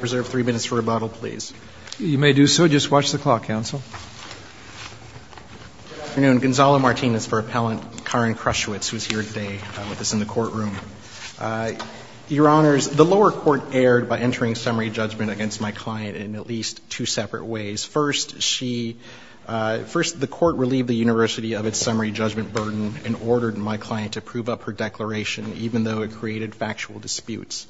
Preserve three minutes for rebuttal, please. You may do so. Just watch the clock, counsel. Good afternoon. Gonzalo Martinez for Appellant Karin Krushwitz, who is here today with us in the courtroom. Your Honors, the lower court erred by entering summary judgment against my client in at least two separate ways. First, she – first, the court relieved the university of its summary judgment burden and ordered my client to prove up her declaration, even though it created factual disputes.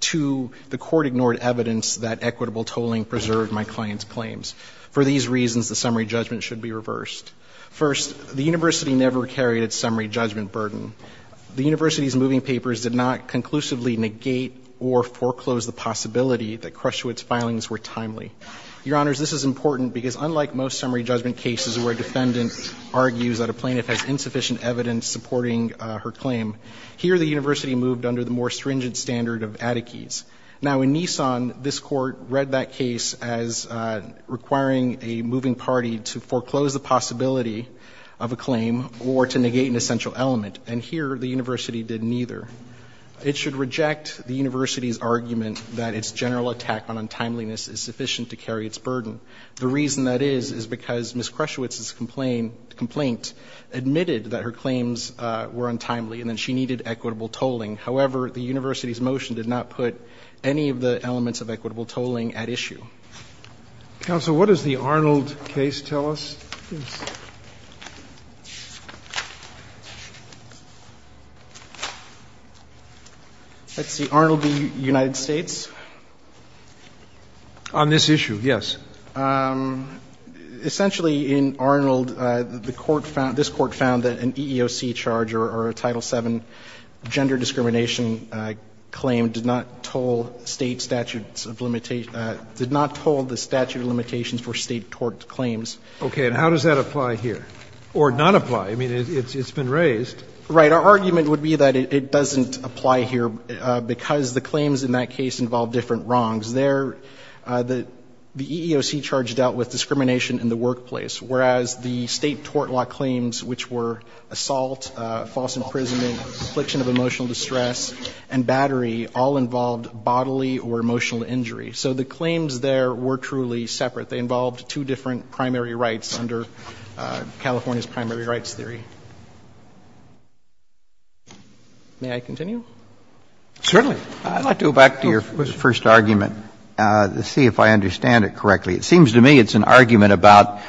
Two, the court ignored evidence that equitable tolling preserved my client's claims. For these reasons, the summary judgment should be reversed. First, the university never carried its summary judgment burden. The university's moving papers did not conclusively negate or foreclose the possibility that Krushwitz's filings were timely. Your Honors, this is important because unlike most summary judgment cases where a defendant argues that a plaintiff has insufficient evidence supporting her claim, here the university moved under the more stringent standard of adequies. Now, in Nissan, this court read that case as requiring a moving party to foreclose the possibility of a claim or to negate an essential element, and here the university did neither. It should reject the university's argument that its general attack on untimeliness is sufficient to carry its burden. The reason that is is because Ms. Krushwitz's complaint admitted that her claims were untimely and that she needed equitable tolling. However, the university's motion did not put any of the elements of equitable tolling at issue. Roberts. Counsel, what does the Arnold case tell us? Let's see. Arnold v. United States? On this issue, yes. Essentially, in Arnold, the court found, this court found that an EEOC charge or a Title VII gender discrimination claim did not toll State statute of limitations, did not toll the statute of limitations for State tort claims. Okay. And how does that apply here? Or not apply? I mean, it's been raised. Right. Our argument would be that it doesn't apply here because the claims in that case involve different wrongs. The claims there, the EEOC charge dealt with discrimination in the workplace, whereas the State tort law claims, which were assault, false imprisonment, affliction of emotional distress, and battery, all involved bodily or emotional injury. So the claims there were truly separate. They involved two different primary rights under California's primary rights theory. May I continue? Certainly. I'd like to go back to your first argument to see if I understand it correctly. It seems to me it's an argument about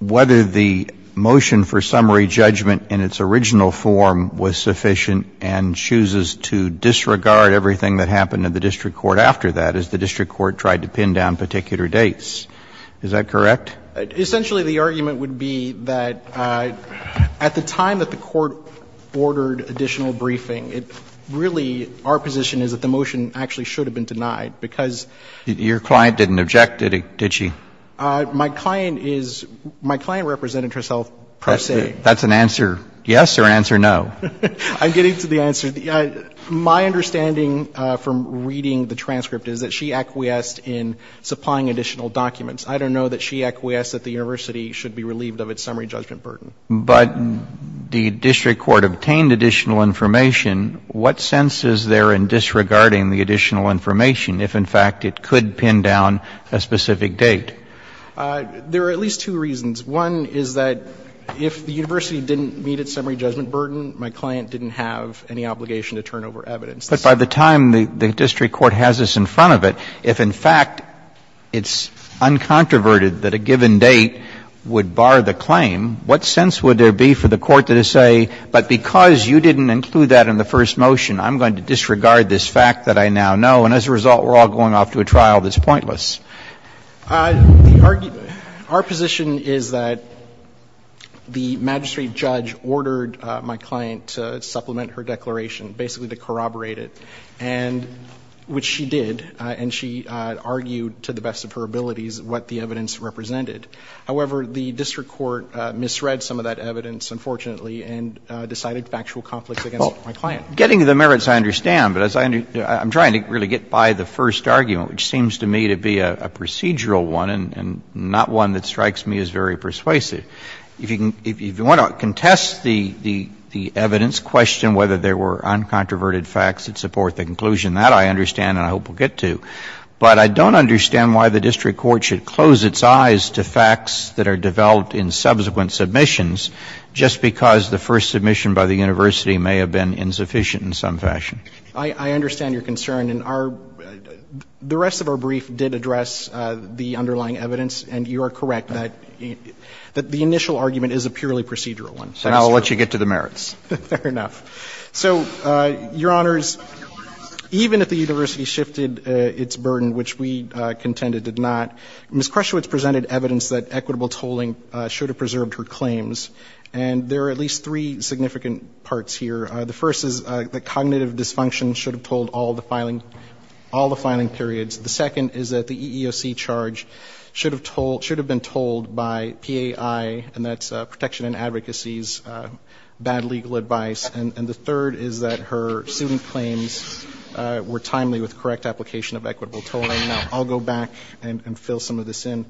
whether the motion for summary judgment in its original form was sufficient and chooses to disregard everything that happened in the district court after that, as the district court tried to pin down particular dates. Is that correct? Essentially, the argument would be that at the time that the court ordered additional briefing, it really — our position is that the motion actually should have been denied because — Your client didn't object, did she? My client is — my client represented herself per se. That's an answer yes or an answer no. I'm getting to the answer. My understanding from reading the transcript is that she acquiesced in supplying additional documents. I don't know that she acquiesced that the university should be relieved of its summary judgment burden. But the district court obtained additional information. What sense is there in disregarding the additional information if, in fact, it could pin down a specific date? There are at least two reasons. One is that if the university didn't meet its summary judgment burden, my client didn't have any obligation to turn over evidence. But by the time the district court has this in front of it, if, in fact, it's uncontroverted that a given date would bar the claim, what sense would there be for the court to say, but because you didn't include that in the first motion, I'm going to disregard this fact that I now know, and as a result, we're all going off to a trial that's pointless? Our position is that the magistrate judge ordered my client to supplement her declaration, basically to corroborate it, and — which she did. And she argued, to the best of her abilities, what the evidence represented. However, the district court misread some of that evidence, unfortunately, and decided factual conflicts against my client. Kennedy, getting to the merits I understand, but I'm trying to really get by the first argument, which seems to me to be a procedural one and not one that strikes me as very persuasive. If you want to contest the evidence, question whether there were uncontroverted facts that support the conclusion. That I understand and I hope we'll get to. But I don't understand why the district court should close its eyes to facts that are developed in subsequent submissions just because the first submission by the university may have been insufficient in some fashion. I understand your concern, and our — the rest of our brief did address the underlying evidence, and you are correct that the initial argument is a purely procedural one. And I'll let you get to the merits. Fair enough. So, Your Honors, even if the university shifted its burden, which we contended did not, Ms. Krushewitz presented evidence that equitable tolling should have preserved her claims. And there are at least three significant parts here. The first is that cognitive dysfunction should have told all the filing periods. The second is that the EEOC charge should have told — should have been told by PAI, and that's Protection and Advocacy's bad legal advice. And the third is that her student claims were timely with correct application of equitable tolling. Now, I'll go back and fill some of this in.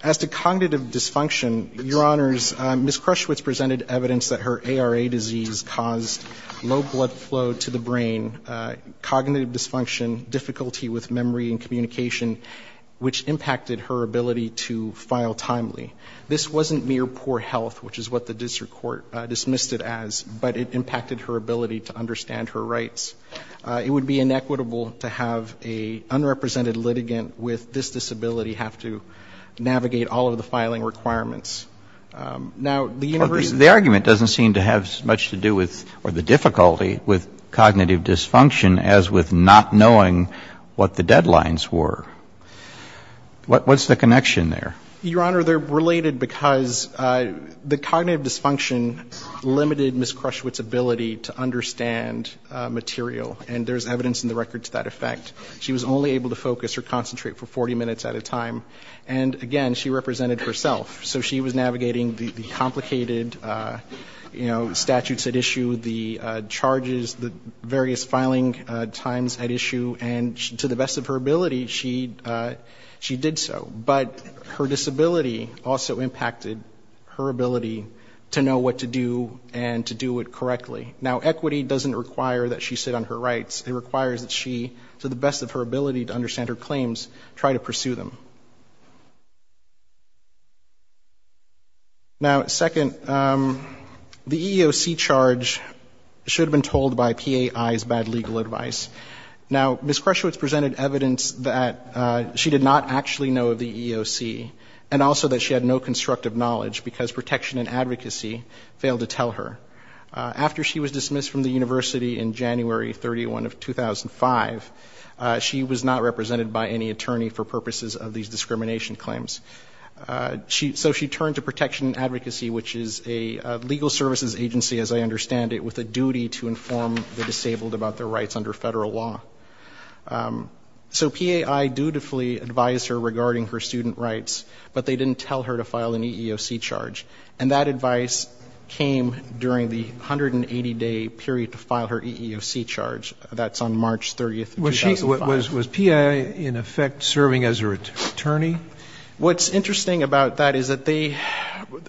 As to cognitive dysfunction, Your Honors, Ms. Krushewitz presented evidence that her ARA disease caused low blood flow to the brain, cognitive dysfunction, difficulty with memory and communication, which impacted her ability to file timely. This wasn't mere poor health, which is what the district court dismissed it as, but it impacted her ability to understand her rights. It would be inequitable to have an unrepresented litigant with this disability have to navigate all of the filing requirements. Now, the university — The argument doesn't seem to have much to do with — or the difficulty with cognitive dysfunction as with not knowing what the deadlines were. What's the connection there? Your Honor, they're related because the cognitive dysfunction limited Ms. Krushewitz's ability to understand material, and there's evidence in the record to that effect. She was only able to focus or concentrate for 40 minutes at a time. And again, she represented herself. So she was navigating the complicated, you know, statutes at issue, the charges, the various filing times at issue. And to the best of her ability, she did so. But her disability also impacted her ability to know what to do and to do it correctly. Now, equity doesn't require that she sit on her rights. It requires that she, to the best of her ability to understand her claims, try to pursue them. Now, second, the EEOC charge should have been told by PAI's bad legal advice. Now, Ms. Krushewitz presented evidence that she did not actually know the EEOC, and also that she had no constructive knowledge because protection and advocacy failed to tell her. After she was dismissed from the university in January 31 of 2005, she was not represented by any attorney for purposes of these discrimination claims. So she turned to Protection and Advocacy, which is a legal services agency, as I understand it, with a duty to inform the disabled about their rights under federal law. So PAI dutifully advised her regarding her student rights, but they didn't tell her to file an EEOC charge. And that advice came during the 180-day period to file her EEOC charge. That's on March 30, 2005. Was she, was PAI, in effect, serving as her attorney? What's interesting about that is that they,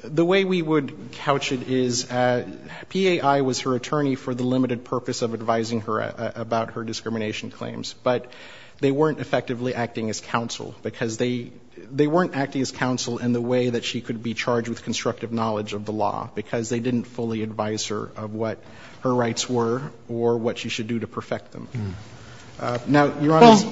the way we would couch it is PAI was her attorney for the limited purpose of advising her about her discrimination claims, but they weren't effectively acting as counsel, because they, they weren't acting as counsel in the way that she could be charged with constructive knowledge of the law, because they didn't fully advise her of what her rights were or what she should do to perfect them. Now, Your Honor's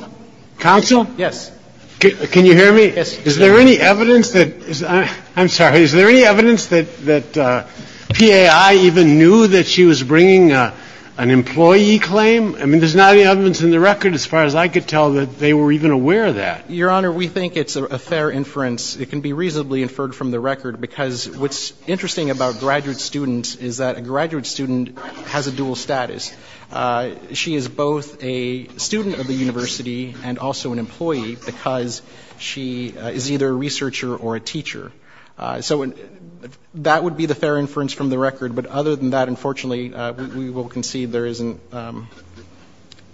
counsel, yes. Can you hear me? Yes. Is there any evidence that, I'm sorry, is there any evidence that PAI even knew that she was bringing an employee claim? I mean, there's not any evidence in the record as far as I could tell that they were even aware of that. Your Honor, we think it's a fair inference. It can be reasonably inferred from the record, because what's interesting about graduate students is that a graduate student has a dual status. She is both a student of the university and also an employee, because she is either a researcher or a teacher. So that would be the fair inference from the record, but other than that, unfortunately, we will concede there isn't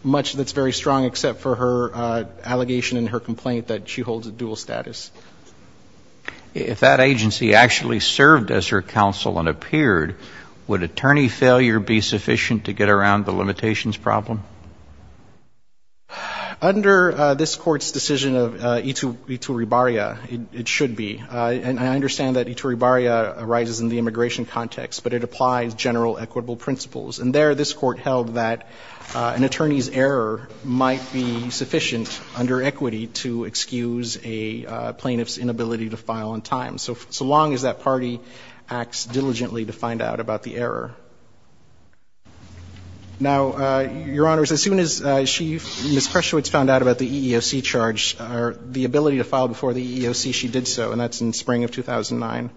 much that's very strong except for her allegation and her complaint that she holds a dual status. If that agency actually served as her counsel and appeared, would attorney failure be sufficient to get around the limitations problem? Under this Court's decision of Iturribarria, it should be. And I understand that Iturribarria arises in the immigration context, but it applies general equitable principles. And there, this Court held that an attorney's error might be sufficient under equity to excuse a plaintiff's inability to file on time, so long as that party acts diligently to find out about the error. Now, Your Honors, as soon as she, Ms. Kreschowitz, found out about the EEOC charge or the ability to file before the EEOC, she did so, and that's in spring of 2009.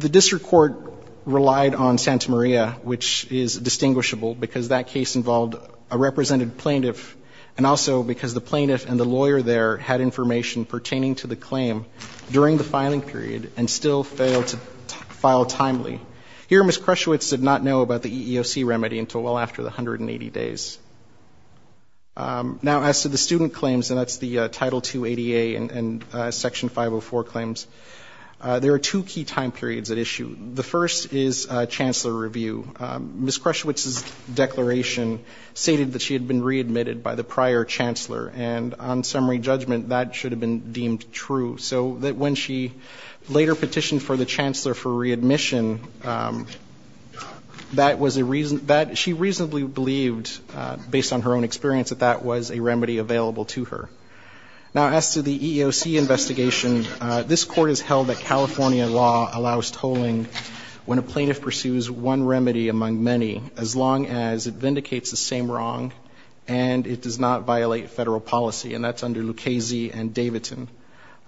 The district court relied on Santa Maria, which is distinguishable, because that case involved a represented plaintiff, and also because the plaintiff and the lawyer there had information pertaining to the claim during the filing period and still failed to file timely. Here, Ms. Kreschowitz did not know about the EEOC remedy until well after the 180 days. Now, as to the student claims, and that's the Title II ADA and Section 504 claims, there are two key time periods at issue. The first is chancellor review. Ms. Kreschowitz's declaration stated that she had been readmitted by the prior chancellor. And on summary judgment, that should have been deemed true, so that when she later petitioned for the chancellor for readmission, that was a reason, that she reasonably believed, based on her own experience, that that was a remedy available to her. Now, as to the EEOC investigation, this court has held that California law allows tolling when a plaintiff pursues one remedy among many, as long as it vindicates the same wrong and it does not violate federal policy, and that's under Lucchesi and Davidson.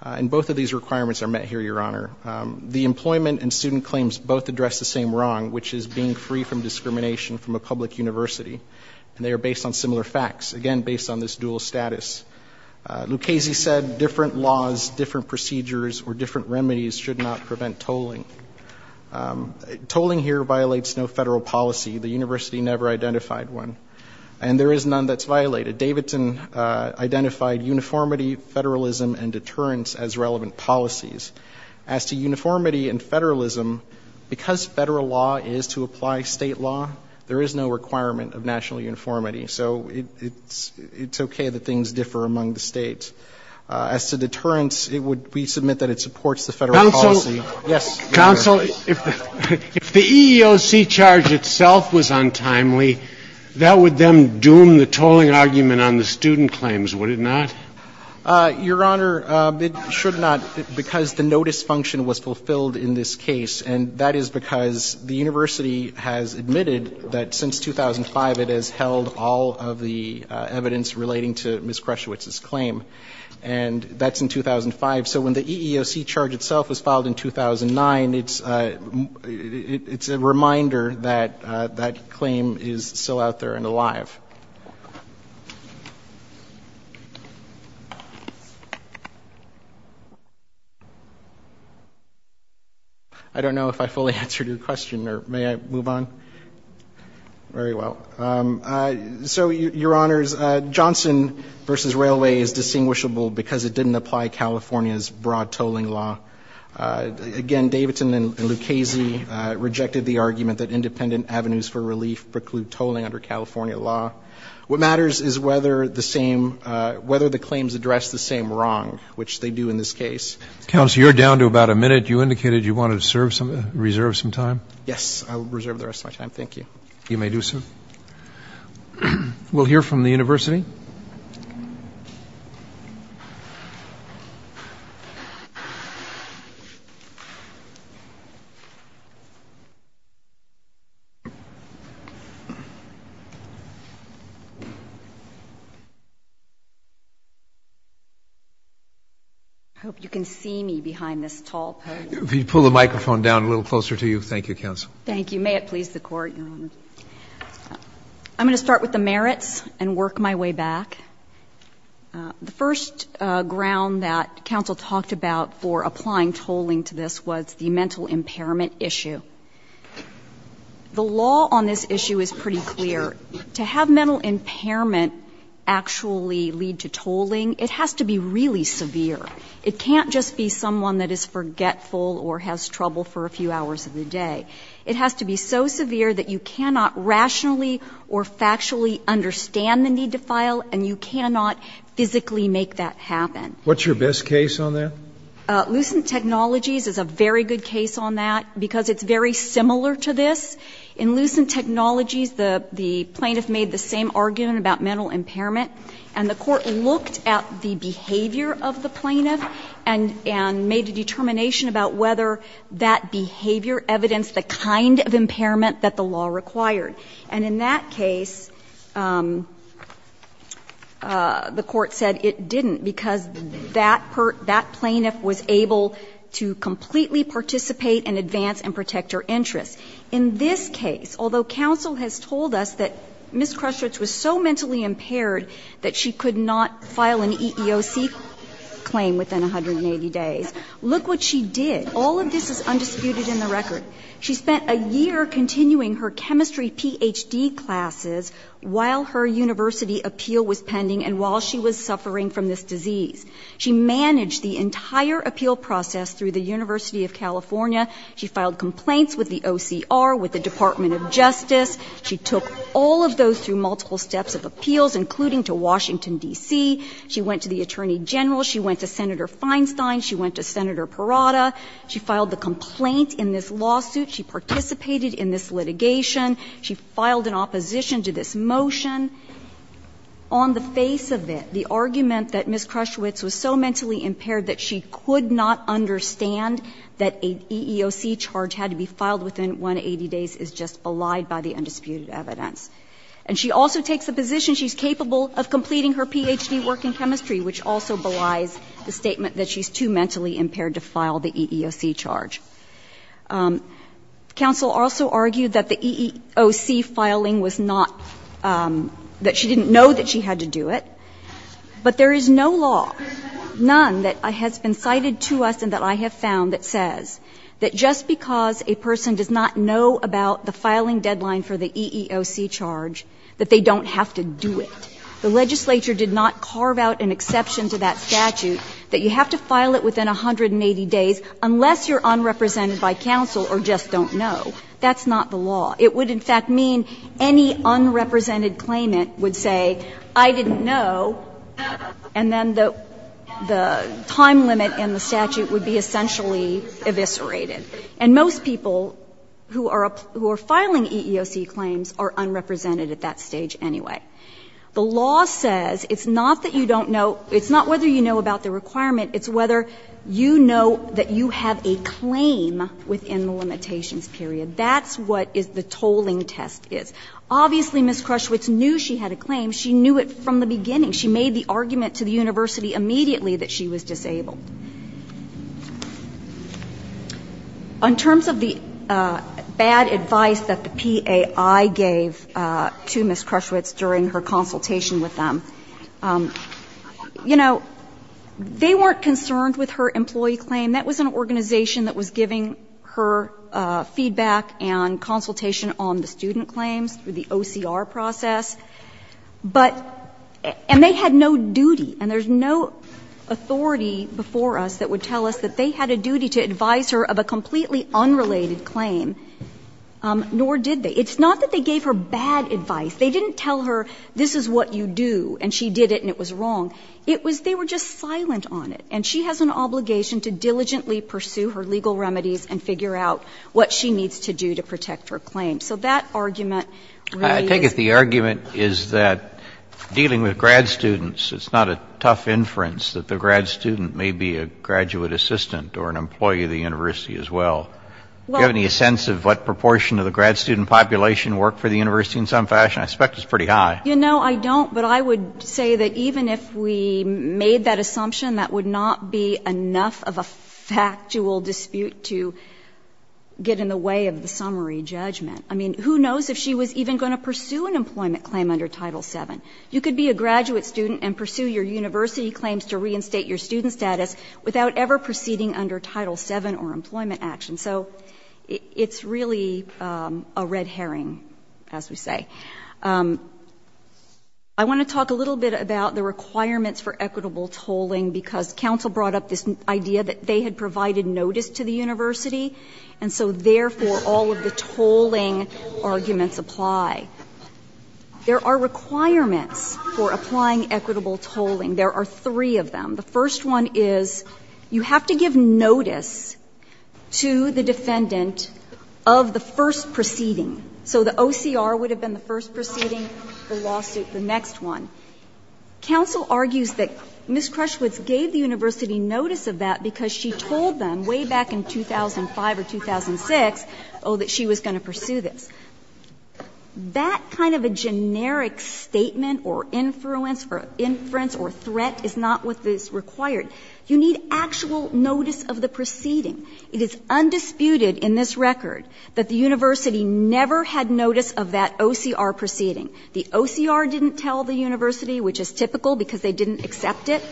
And both of these requirements are met here, Your Honor. The employment and student claims both address the same wrong, which is being free from discrimination from a public university. And they are based on similar facts, again, based on this dual status. Lucchesi said different laws, different procedures, or different remedies should not prevent tolling. Tolling here violates no federal policy. The university never identified one. And there is none that's violated. Davidson identified uniformity, federalism, and deterrence as relevant policies. As to uniformity and federalism, because federal law is to apply state law, there is no requirement of national uniformity. So it's okay that things differ among the states. As to deterrence, we submit that it supports the federal policy. Yes, Your Honor. Counsel, if the EEOC charge itself was untimely, that would then doom the tolling argument on the student claims, would it not? Your Honor, it should not, because the notice function was fulfilled in this case. And that is because the university has admitted that since 2005, it has held all of the evidence relating to Ms. Krushwitz's claim. And that's in 2005. So when the EEOC charge itself was filed in 2009, it's a reminder that that claim is still out there and alive. I don't know if I fully answered your question, or may I move on? Very well. So, Your Honors, Johnson v. Railway is distinguishable because it didn't apply California's broad tolling law. Again, Davidson and Lucchese rejected the argument that independent avenues for relief preclude tolling under California law. What matters is whether the claims address the same wrong, which they do in this case. Counsel, you're down to about a minute. You indicated you wanted to reserve some time. Yes, I will reserve the rest of my time. Thank you. You may do so. We'll hear from the university. I hope you can see me behind this tall post. If you could pull the microphone down a little closer to you. Thank you, Counsel. Thank you. And may it please the Court, Your Honor. I'm going to start with the merits and work my way back. The first ground that Counsel talked about for applying tolling to this was the mental impairment issue. The law on this issue is pretty clear. To have mental impairment actually lead to tolling, it has to be really severe. It can't just be someone that is forgetful or has trouble for a few hours of the day. It has to be so severe that you cannot rationally or factually understand the need to file and you cannot physically make that happen. What's your best case on that? Lucent Technologies is a very good case on that because it's very similar to this. In Lucent Technologies, the plaintiff made the same argument about mental impairment and the Court looked at the behavior of the plaintiff and made a determination about whether that behavior evidenced the kind of impairment that the law required. And in that case, the Court said it didn't because that plaintiff was able to completely participate and advance and protect her interests. In this case, although Counsel has told us that Ms. Krestrich was so mentally impaired that she could not file an EEOC claim within 180 days, look what she did All of this is undisputed in the record. She spent a year continuing her chemistry PhD classes while her university appeal was pending and while she was suffering from this disease. She managed the entire appeal process through the University of California. She filed complaints with the OCR, with the Department of Justice. She took all of those through multiple steps of appeals, including to Washington, D.C. She went to the Attorney General. She went to Senator Feinstein. She went to Senator Parada. She filed the complaint in this lawsuit. She participated in this litigation. She filed an opposition to this motion. On the face of it, the argument that Ms. Krestrich was so mentally impaired that she could not understand that an EEOC charge had to be filed within 180 days is just belied by the undisputed evidence. And she also takes the position she's capable of completing her PhD work in chemistry, which also belies the statement that she's too mentally impaired to file the EEOC charge. Counsel also argued that the EEOC filing was not that she didn't know that she had to do it. But there is no law, none that has been cited to us and that I have found that says that just because a person does not know about the filing deadline for the EEOC charge that they don't have to do it. The legislature did not carve out an exception to that statute that you have to file it within 180 days unless you're unrepresented by counsel or just don't know. That's not the law. It would, in fact, mean any unrepresented claimant would say, I didn't know, and then the time limit in the statute would be essentially eviscerated. And most people who are filing EEOC claims are unrepresented at that stage anyway. The law says it's not that you don't know. It's not whether you know about the requirement. It's whether you know that you have a claim within the limitations period. That's what the tolling test is. Obviously, Ms. Krushwitz knew she had a claim. She knew it from the beginning. She made the argument to the university immediately that she was disabled. On terms of the bad advice that the PAI gave to Ms. Krushwitz during her consultation with them, you know, they weren't concerned with her employee claim. That was an organization that was giving her feedback and consultation on the student claims through the OCR process. But they had no duty, and there's no authority before us that would tell us that they had a duty to advise her of a completely unrelated claim, nor did they. It's not that they gave her bad advice. They didn't tell her, this is what you do, and she did it and it was wrong. It was they were just silent on it. And she has an obligation to diligently pursue her legal remedies and figure out what she needs to do to protect her claim. So that argument really is. The argument is that dealing with grad students, it's not a tough inference that the grad student may be a graduate assistant or an employee of the university as well. Do you have any sense of what proportion of the grad student population worked for the university in some fashion? I suspect it's pretty high. You know, I don't, but I would say that even if we made that assumption, that would not be enough of a factual dispute to get in the way of the summary judgment. I mean, who knows if she was even going to pursue an employment claim under Title VII. You could be a graduate student and pursue your university claims to reinstate your student status without ever proceeding under Title VII or employment action. So it's really a red herring, as we say. I want to talk a little bit about the requirements for equitable tolling, because counsel brought up this idea that they had provided notice to the university, and so therefore all of the tolling arguments apply. There are requirements for applying equitable tolling. There are three of them. The first one is you have to give notice to the defendant of the first proceeding. So the OCR would have been the first proceeding, the lawsuit the next one. Counsel argues that Ms. Crushwood gave the university notice of that because she knew in 2005 or 2006 that she was going to pursue this. That kind of a generic statement or influence or threat is not what is required. You need actual notice of the proceeding. It is undisputed in this record that the university never had notice of that OCR proceeding. The OCR didn't tell the university, which is typical because they didn't accept it.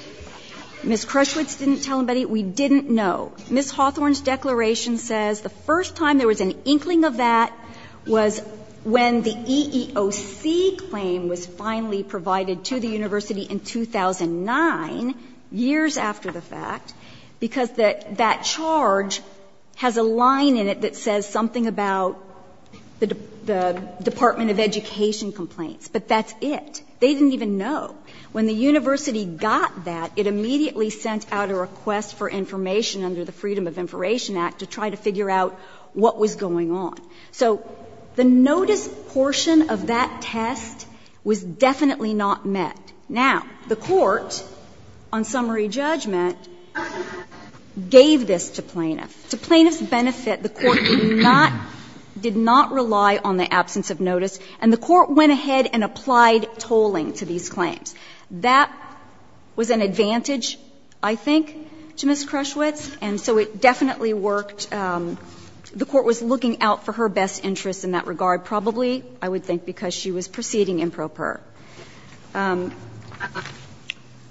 Ms. Crushwood didn't tell anybody. We didn't know. Ms. Hawthorne's declaration says the first time there was an inkling of that was when the EEOC claim was finally provided to the university in 2009, years after the fact, because that charge has a line in it that says something about the Department of Education complaints, but that's it. They didn't even know. When the university got that, it immediately sent out a request for information under the Freedom of Information Act to try to figure out what was going on. So the notice portion of that test was definitely not met. Now, the Court, on summary judgment, gave this to plaintiffs. To plaintiffs' benefit, the Court did not rely on the absence of notice, and the Court went ahead and applied tolling to these claims. That was an advantage, I think, to Ms. Crushwood's, and so it definitely worked. The Court was looking out for her best interests in that regard, probably, I would think, because she was proceeding improper.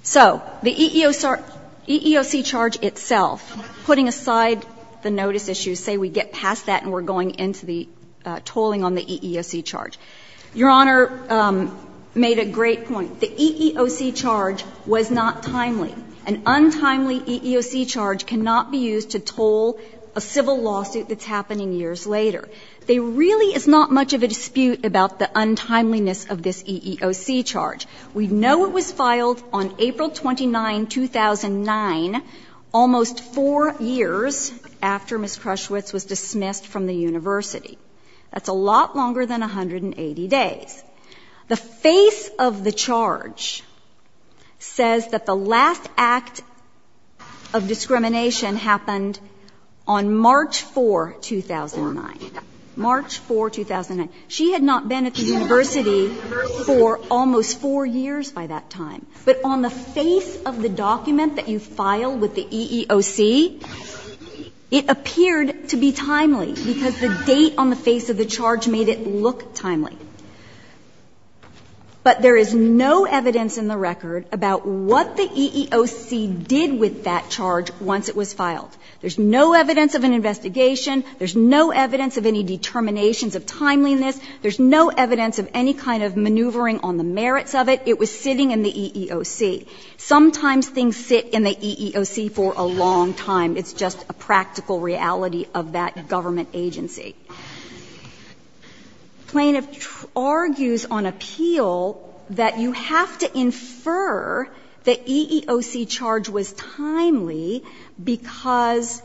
So the EEOC charge itself, putting aside the notice issue, say we get past that and we're going into the tolling on the EEOC charge. Your Honor made a great point. The EEOC charge was not timely. An untimely EEOC charge cannot be used to toll a civil lawsuit that's happening years later. There really is not much of a dispute about the untimeliness of this EEOC charge. We know it was filed on April 29, 2009, almost four years after Ms. Crushwood's was dismissed from the university. That's a lot longer than 180 days. The face of the charge says that the last act of discrimination happened on March 4, 2009. March 4, 2009. She had not been at the university for almost four years by that time. But on the face of the document that you filed with the EEOC, it appeared to be timely because the date on the face of the charge made it look timely. But there is no evidence in the record about what the EEOC did with that charge once it was filed. There's no evidence of an investigation. There's no evidence of any determinations of timeliness. There's no evidence of any kind of maneuvering on the merits of it. It was sitting in the EEOC. Sometimes things sit in the EEOC for a long time. It's just a practical reality of that government agency. The plaintiff argues on appeal that you have to infer the EEOC charge was timely because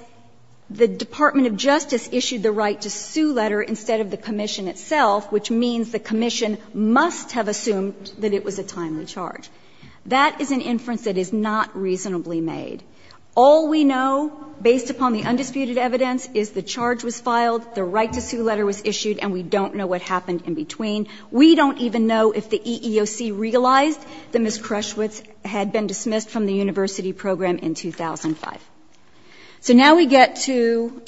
the Department of Justice issued the right to sue letter instead of the commission itself, which means the commission must have assumed that it was a timely charge. That is an inference that is not reasonably made. All we know, based upon the undisputed evidence, is the charge was filed, the right to sue letter was issued, and we don't know what happened in between. We don't even know if the EEOC realized that Ms. Crushwitz had been dismissed from the university program in 2005. So now we get to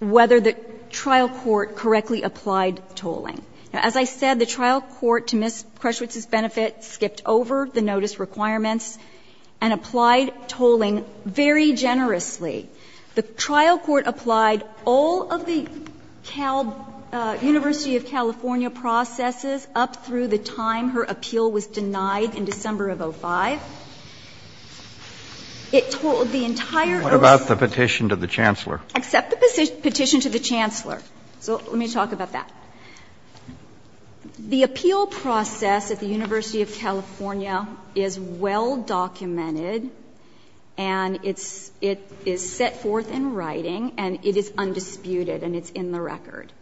whether the trial court correctly applied tolling. As I said, the trial court, to Ms. Crushwitz's benefit, skipped over the notice requirements and applied tolling very generously. The trial court applied all of the University of California processes up through the time her appeal was denied in December of 2005. It tolled the entire OASIS. Kennedy. What about the petition to the Chancellor? Except the petition to the Chancellor. So let me talk about that. The appeal process at the University of California is well documented, and it's set forth in writing, and it is undisputed, and it's in the record.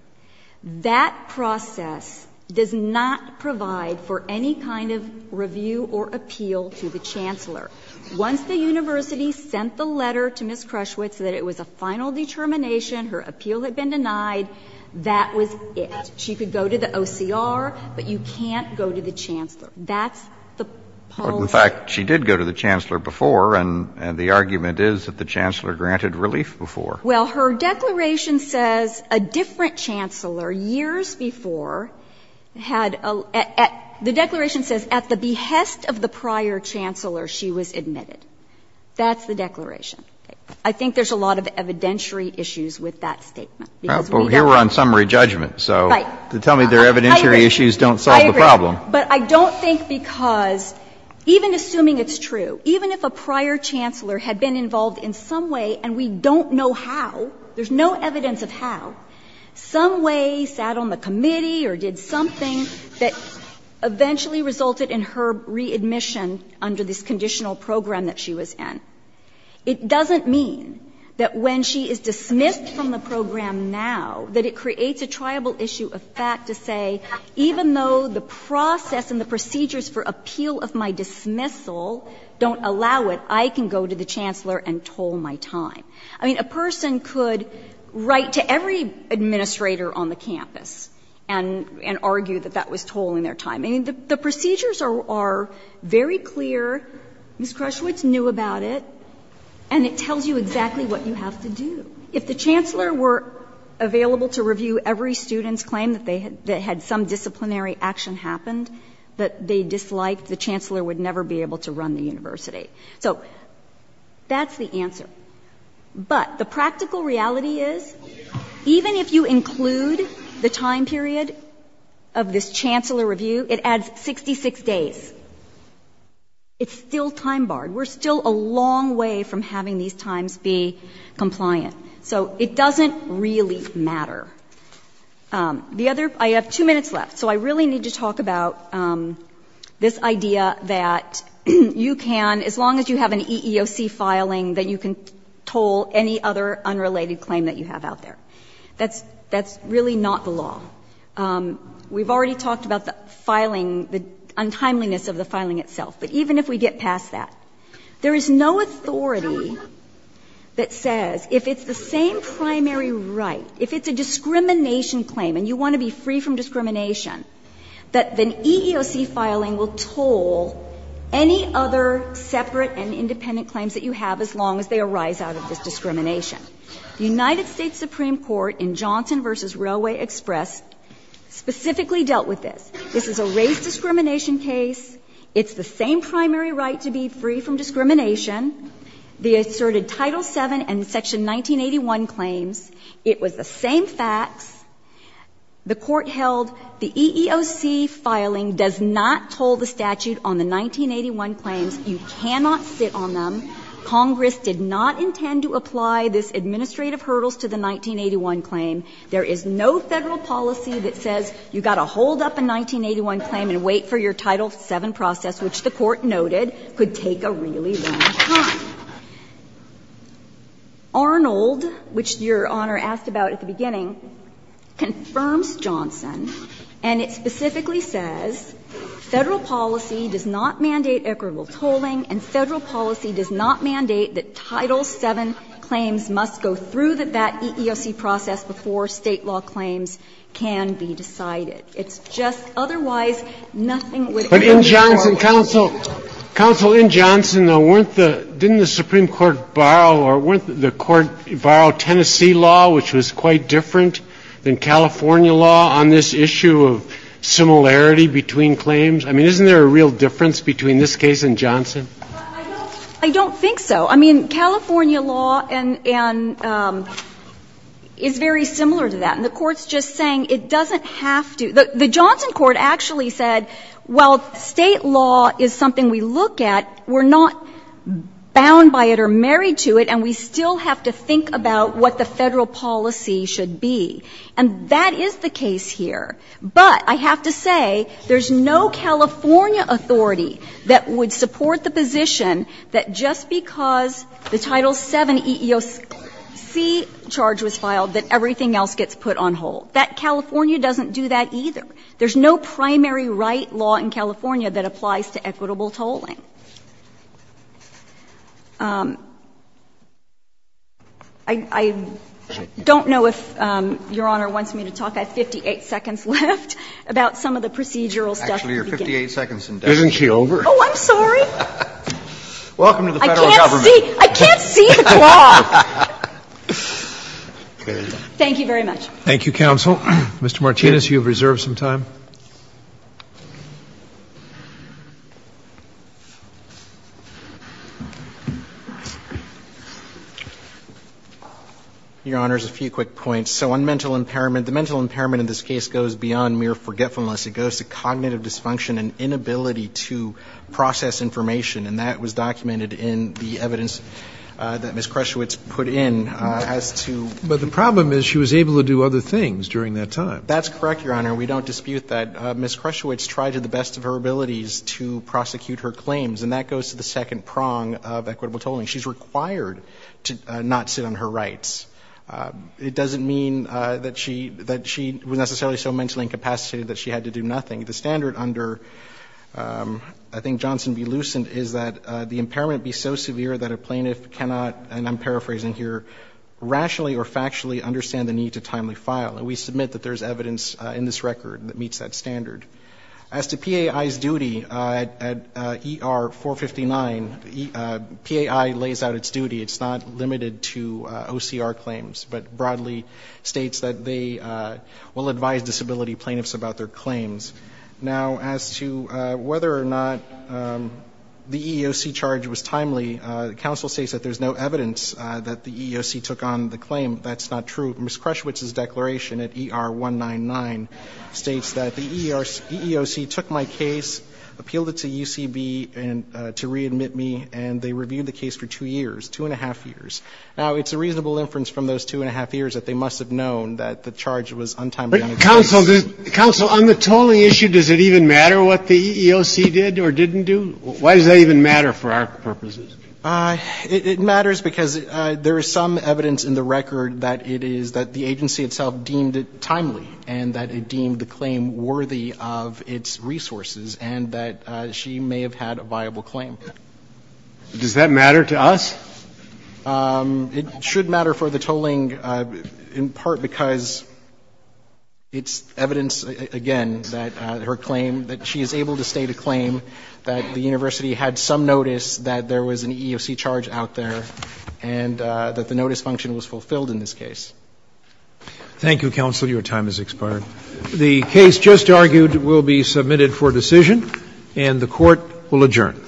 That process does not provide for any kind of review or appeal to the Chancellor. Once the university sent the letter to Ms. Crushwitz that it was a final determination, her appeal had been denied, that was it. She could go to the OCR, but you can't go to the Chancellor. That's the pulse. But in fact, she did go to the Chancellor before, and the argument is that the Chancellor granted relief before. Well, her declaration says a different Chancellor years before had a — the declaration says at the behest of the prior Chancellor, she was admitted. That's the declaration. I think there's a lot of evidentiary issues with that statement. Well, here we're on summary judgment, so to tell me there are evidentiary issues don't solve the problem. I agree. But I don't think because, even assuming it's true, even if a prior Chancellor had been involved in some way, and we don't know how, there's no evidence of how, some way sat on the committee or did something that eventually resulted in her readmission under this conditional program that she was in, it doesn't mean that when she is dismissed from the program now, that it creates a triable issue of fact to say, even though the process and the procedures for appeal of my dismissal don't allow it, I can go to the Chancellor and toll my time. I mean, a person could write to every administrator on the campus and argue that that was tolling their time. I mean, the procedures are very clear. Ms. Krushwitz knew about it. And it tells you exactly what you have to do. If the Chancellor were available to review every student's claim that they had some disciplinary action happened that they disliked, the Chancellor would never be able to run the university. So that's the answer. But the practical reality is, even if you include the time period of this Chancellor review, it adds 66 days. It's still time barred. We're still a long way from having these times be compliant. So it doesn't really matter. I have two minutes left, so I really need to talk about this idea that you can, as long as you have an EEOC filing, that you can toll any other unrelated claim that you have out there. That's really not the law. We've already talked about the filing, the untimeliness of the filing itself. But even if we get past that, there is no authority that says, if it's the same primary right, if it's a discrimination claim and you want to be free from discrimination, that an EEOC filing will toll any other separate and independent claims that you have as long as they arise out of this discrimination. The United States Supreme Court in Johnson v. Railway Express specifically dealt with this. This is a race discrimination case. It's the same primary right to be free from discrimination. They asserted Title VII and Section 1981 claims. It was the same facts. The Court held the EEOC filing does not toll the statute on the 1981 claims. You cannot sit on them. Congress did not intend to apply this administrative hurdles to the 1981 claim. There is no Federal policy that says you've got to hold up a 1981 claim and wait for your Title VII process, which the Court noted could take a really long time. Arnold, which Your Honor asked about at the beginning, confirms Johnson, and it specifically says Federal policy does not mandate equitable tolling, and Federal policy does not mandate that Title VII claims must go through that EEOC process before State law claims can be decided. It's just otherwise nothing would ever be decided. But in Johnson, Counsel, Counsel, in Johnson, weren't the — didn't the Supreme Court borrow or weren't the Court borrow Tennessee law, which was quite different than California law on this issue of similarity between claims? I mean, isn't there a real difference between this case and Johnson? I don't think so. I mean, California law and — is very similar to that. And the Court's just saying it doesn't have to — the Johnson Court actually said, well, State law is something we look at. We're not bound by it or married to it, and we still have to think about what the difference would be. And that is the case here. But I have to say, there's no California authority that would support the position that just because the Title VII EEOC charge was filed, that everything else gets put on hold. That California doesn't do that either. There's no primary right law in California that applies to equitable tolling. I don't know if Your Honor wants me to talk. I have 58 seconds left about some of the procedural stuff at the beginning. Actually, you're 58 seconds in. Isn't she over? Oh, I'm sorry. Welcome to the Federal Government. I can't see. I can't see the clock. There you go. Thank you very much. Thank you, counsel. Mr. Martinez, you have reserved some time. Your Honor, just a few quick points. So on mental impairment, the mental impairment in this case goes beyond mere forgetfulness. It goes to cognitive dysfunction and inability to process information. And that was documented in the evidence that Ms. Kreshewitz put in as to ---- But the problem is she was able to do other things during that time. That's correct, Your Honor. We don't dispute that. We don't dispute that. Ms. Kreshewitz tried to the best of her abilities to prosecute her claims, and that goes to the second prong of equitable tolling. She's required to not sit on her rights. It doesn't mean that she was necessarily so mentally incapacitated that she had to do nothing. The standard under, I think, Johnson v. Lucent is that the impairment be so severe that a plaintiff cannot, and I'm paraphrasing here, rationally or factually understand the need to timely file. And we submit that there's evidence in this record that meets that standard. As to PAI's duty at ER 459, PAI lays out its duty. It's not limited to OCR claims, but broadly states that they will advise disability plaintiffs about their claims. Now, as to whether or not the EEOC charge was timely, counsel states that there's no evidence that the EEOC took on the claim. That's not true. Ms. Krushwitz's declaration at ER 199 states that the EEOC took my case, appealed it to UCB to readmit me, and they reviewed the case for 2 years, 2 1⁄2 years. Now, it's a reasonable inference from those 2 1⁄2 years that they must have known that the charge was untimely on a case. Counsel, on the tolling issue, does it even matter what the EEOC did or didn't do? Why does that even matter for our purposes? It matters because there is some evidence in the record that it is that the agency itself deemed it timely and that it deemed the claim worthy of its resources and that she may have had a viable claim. Does that matter to us? It should matter for the tolling, in part because it's evidence, again, that her claim that she is able to state a claim that the university had some notice that there was an EEOC charge out there and that the notice function was fulfilled in this case. Thank you, Counsel. Your time has expired. The case just argued will be submitted for decision and the Court will adjourn. All right. For this Court, this session has been adjourned.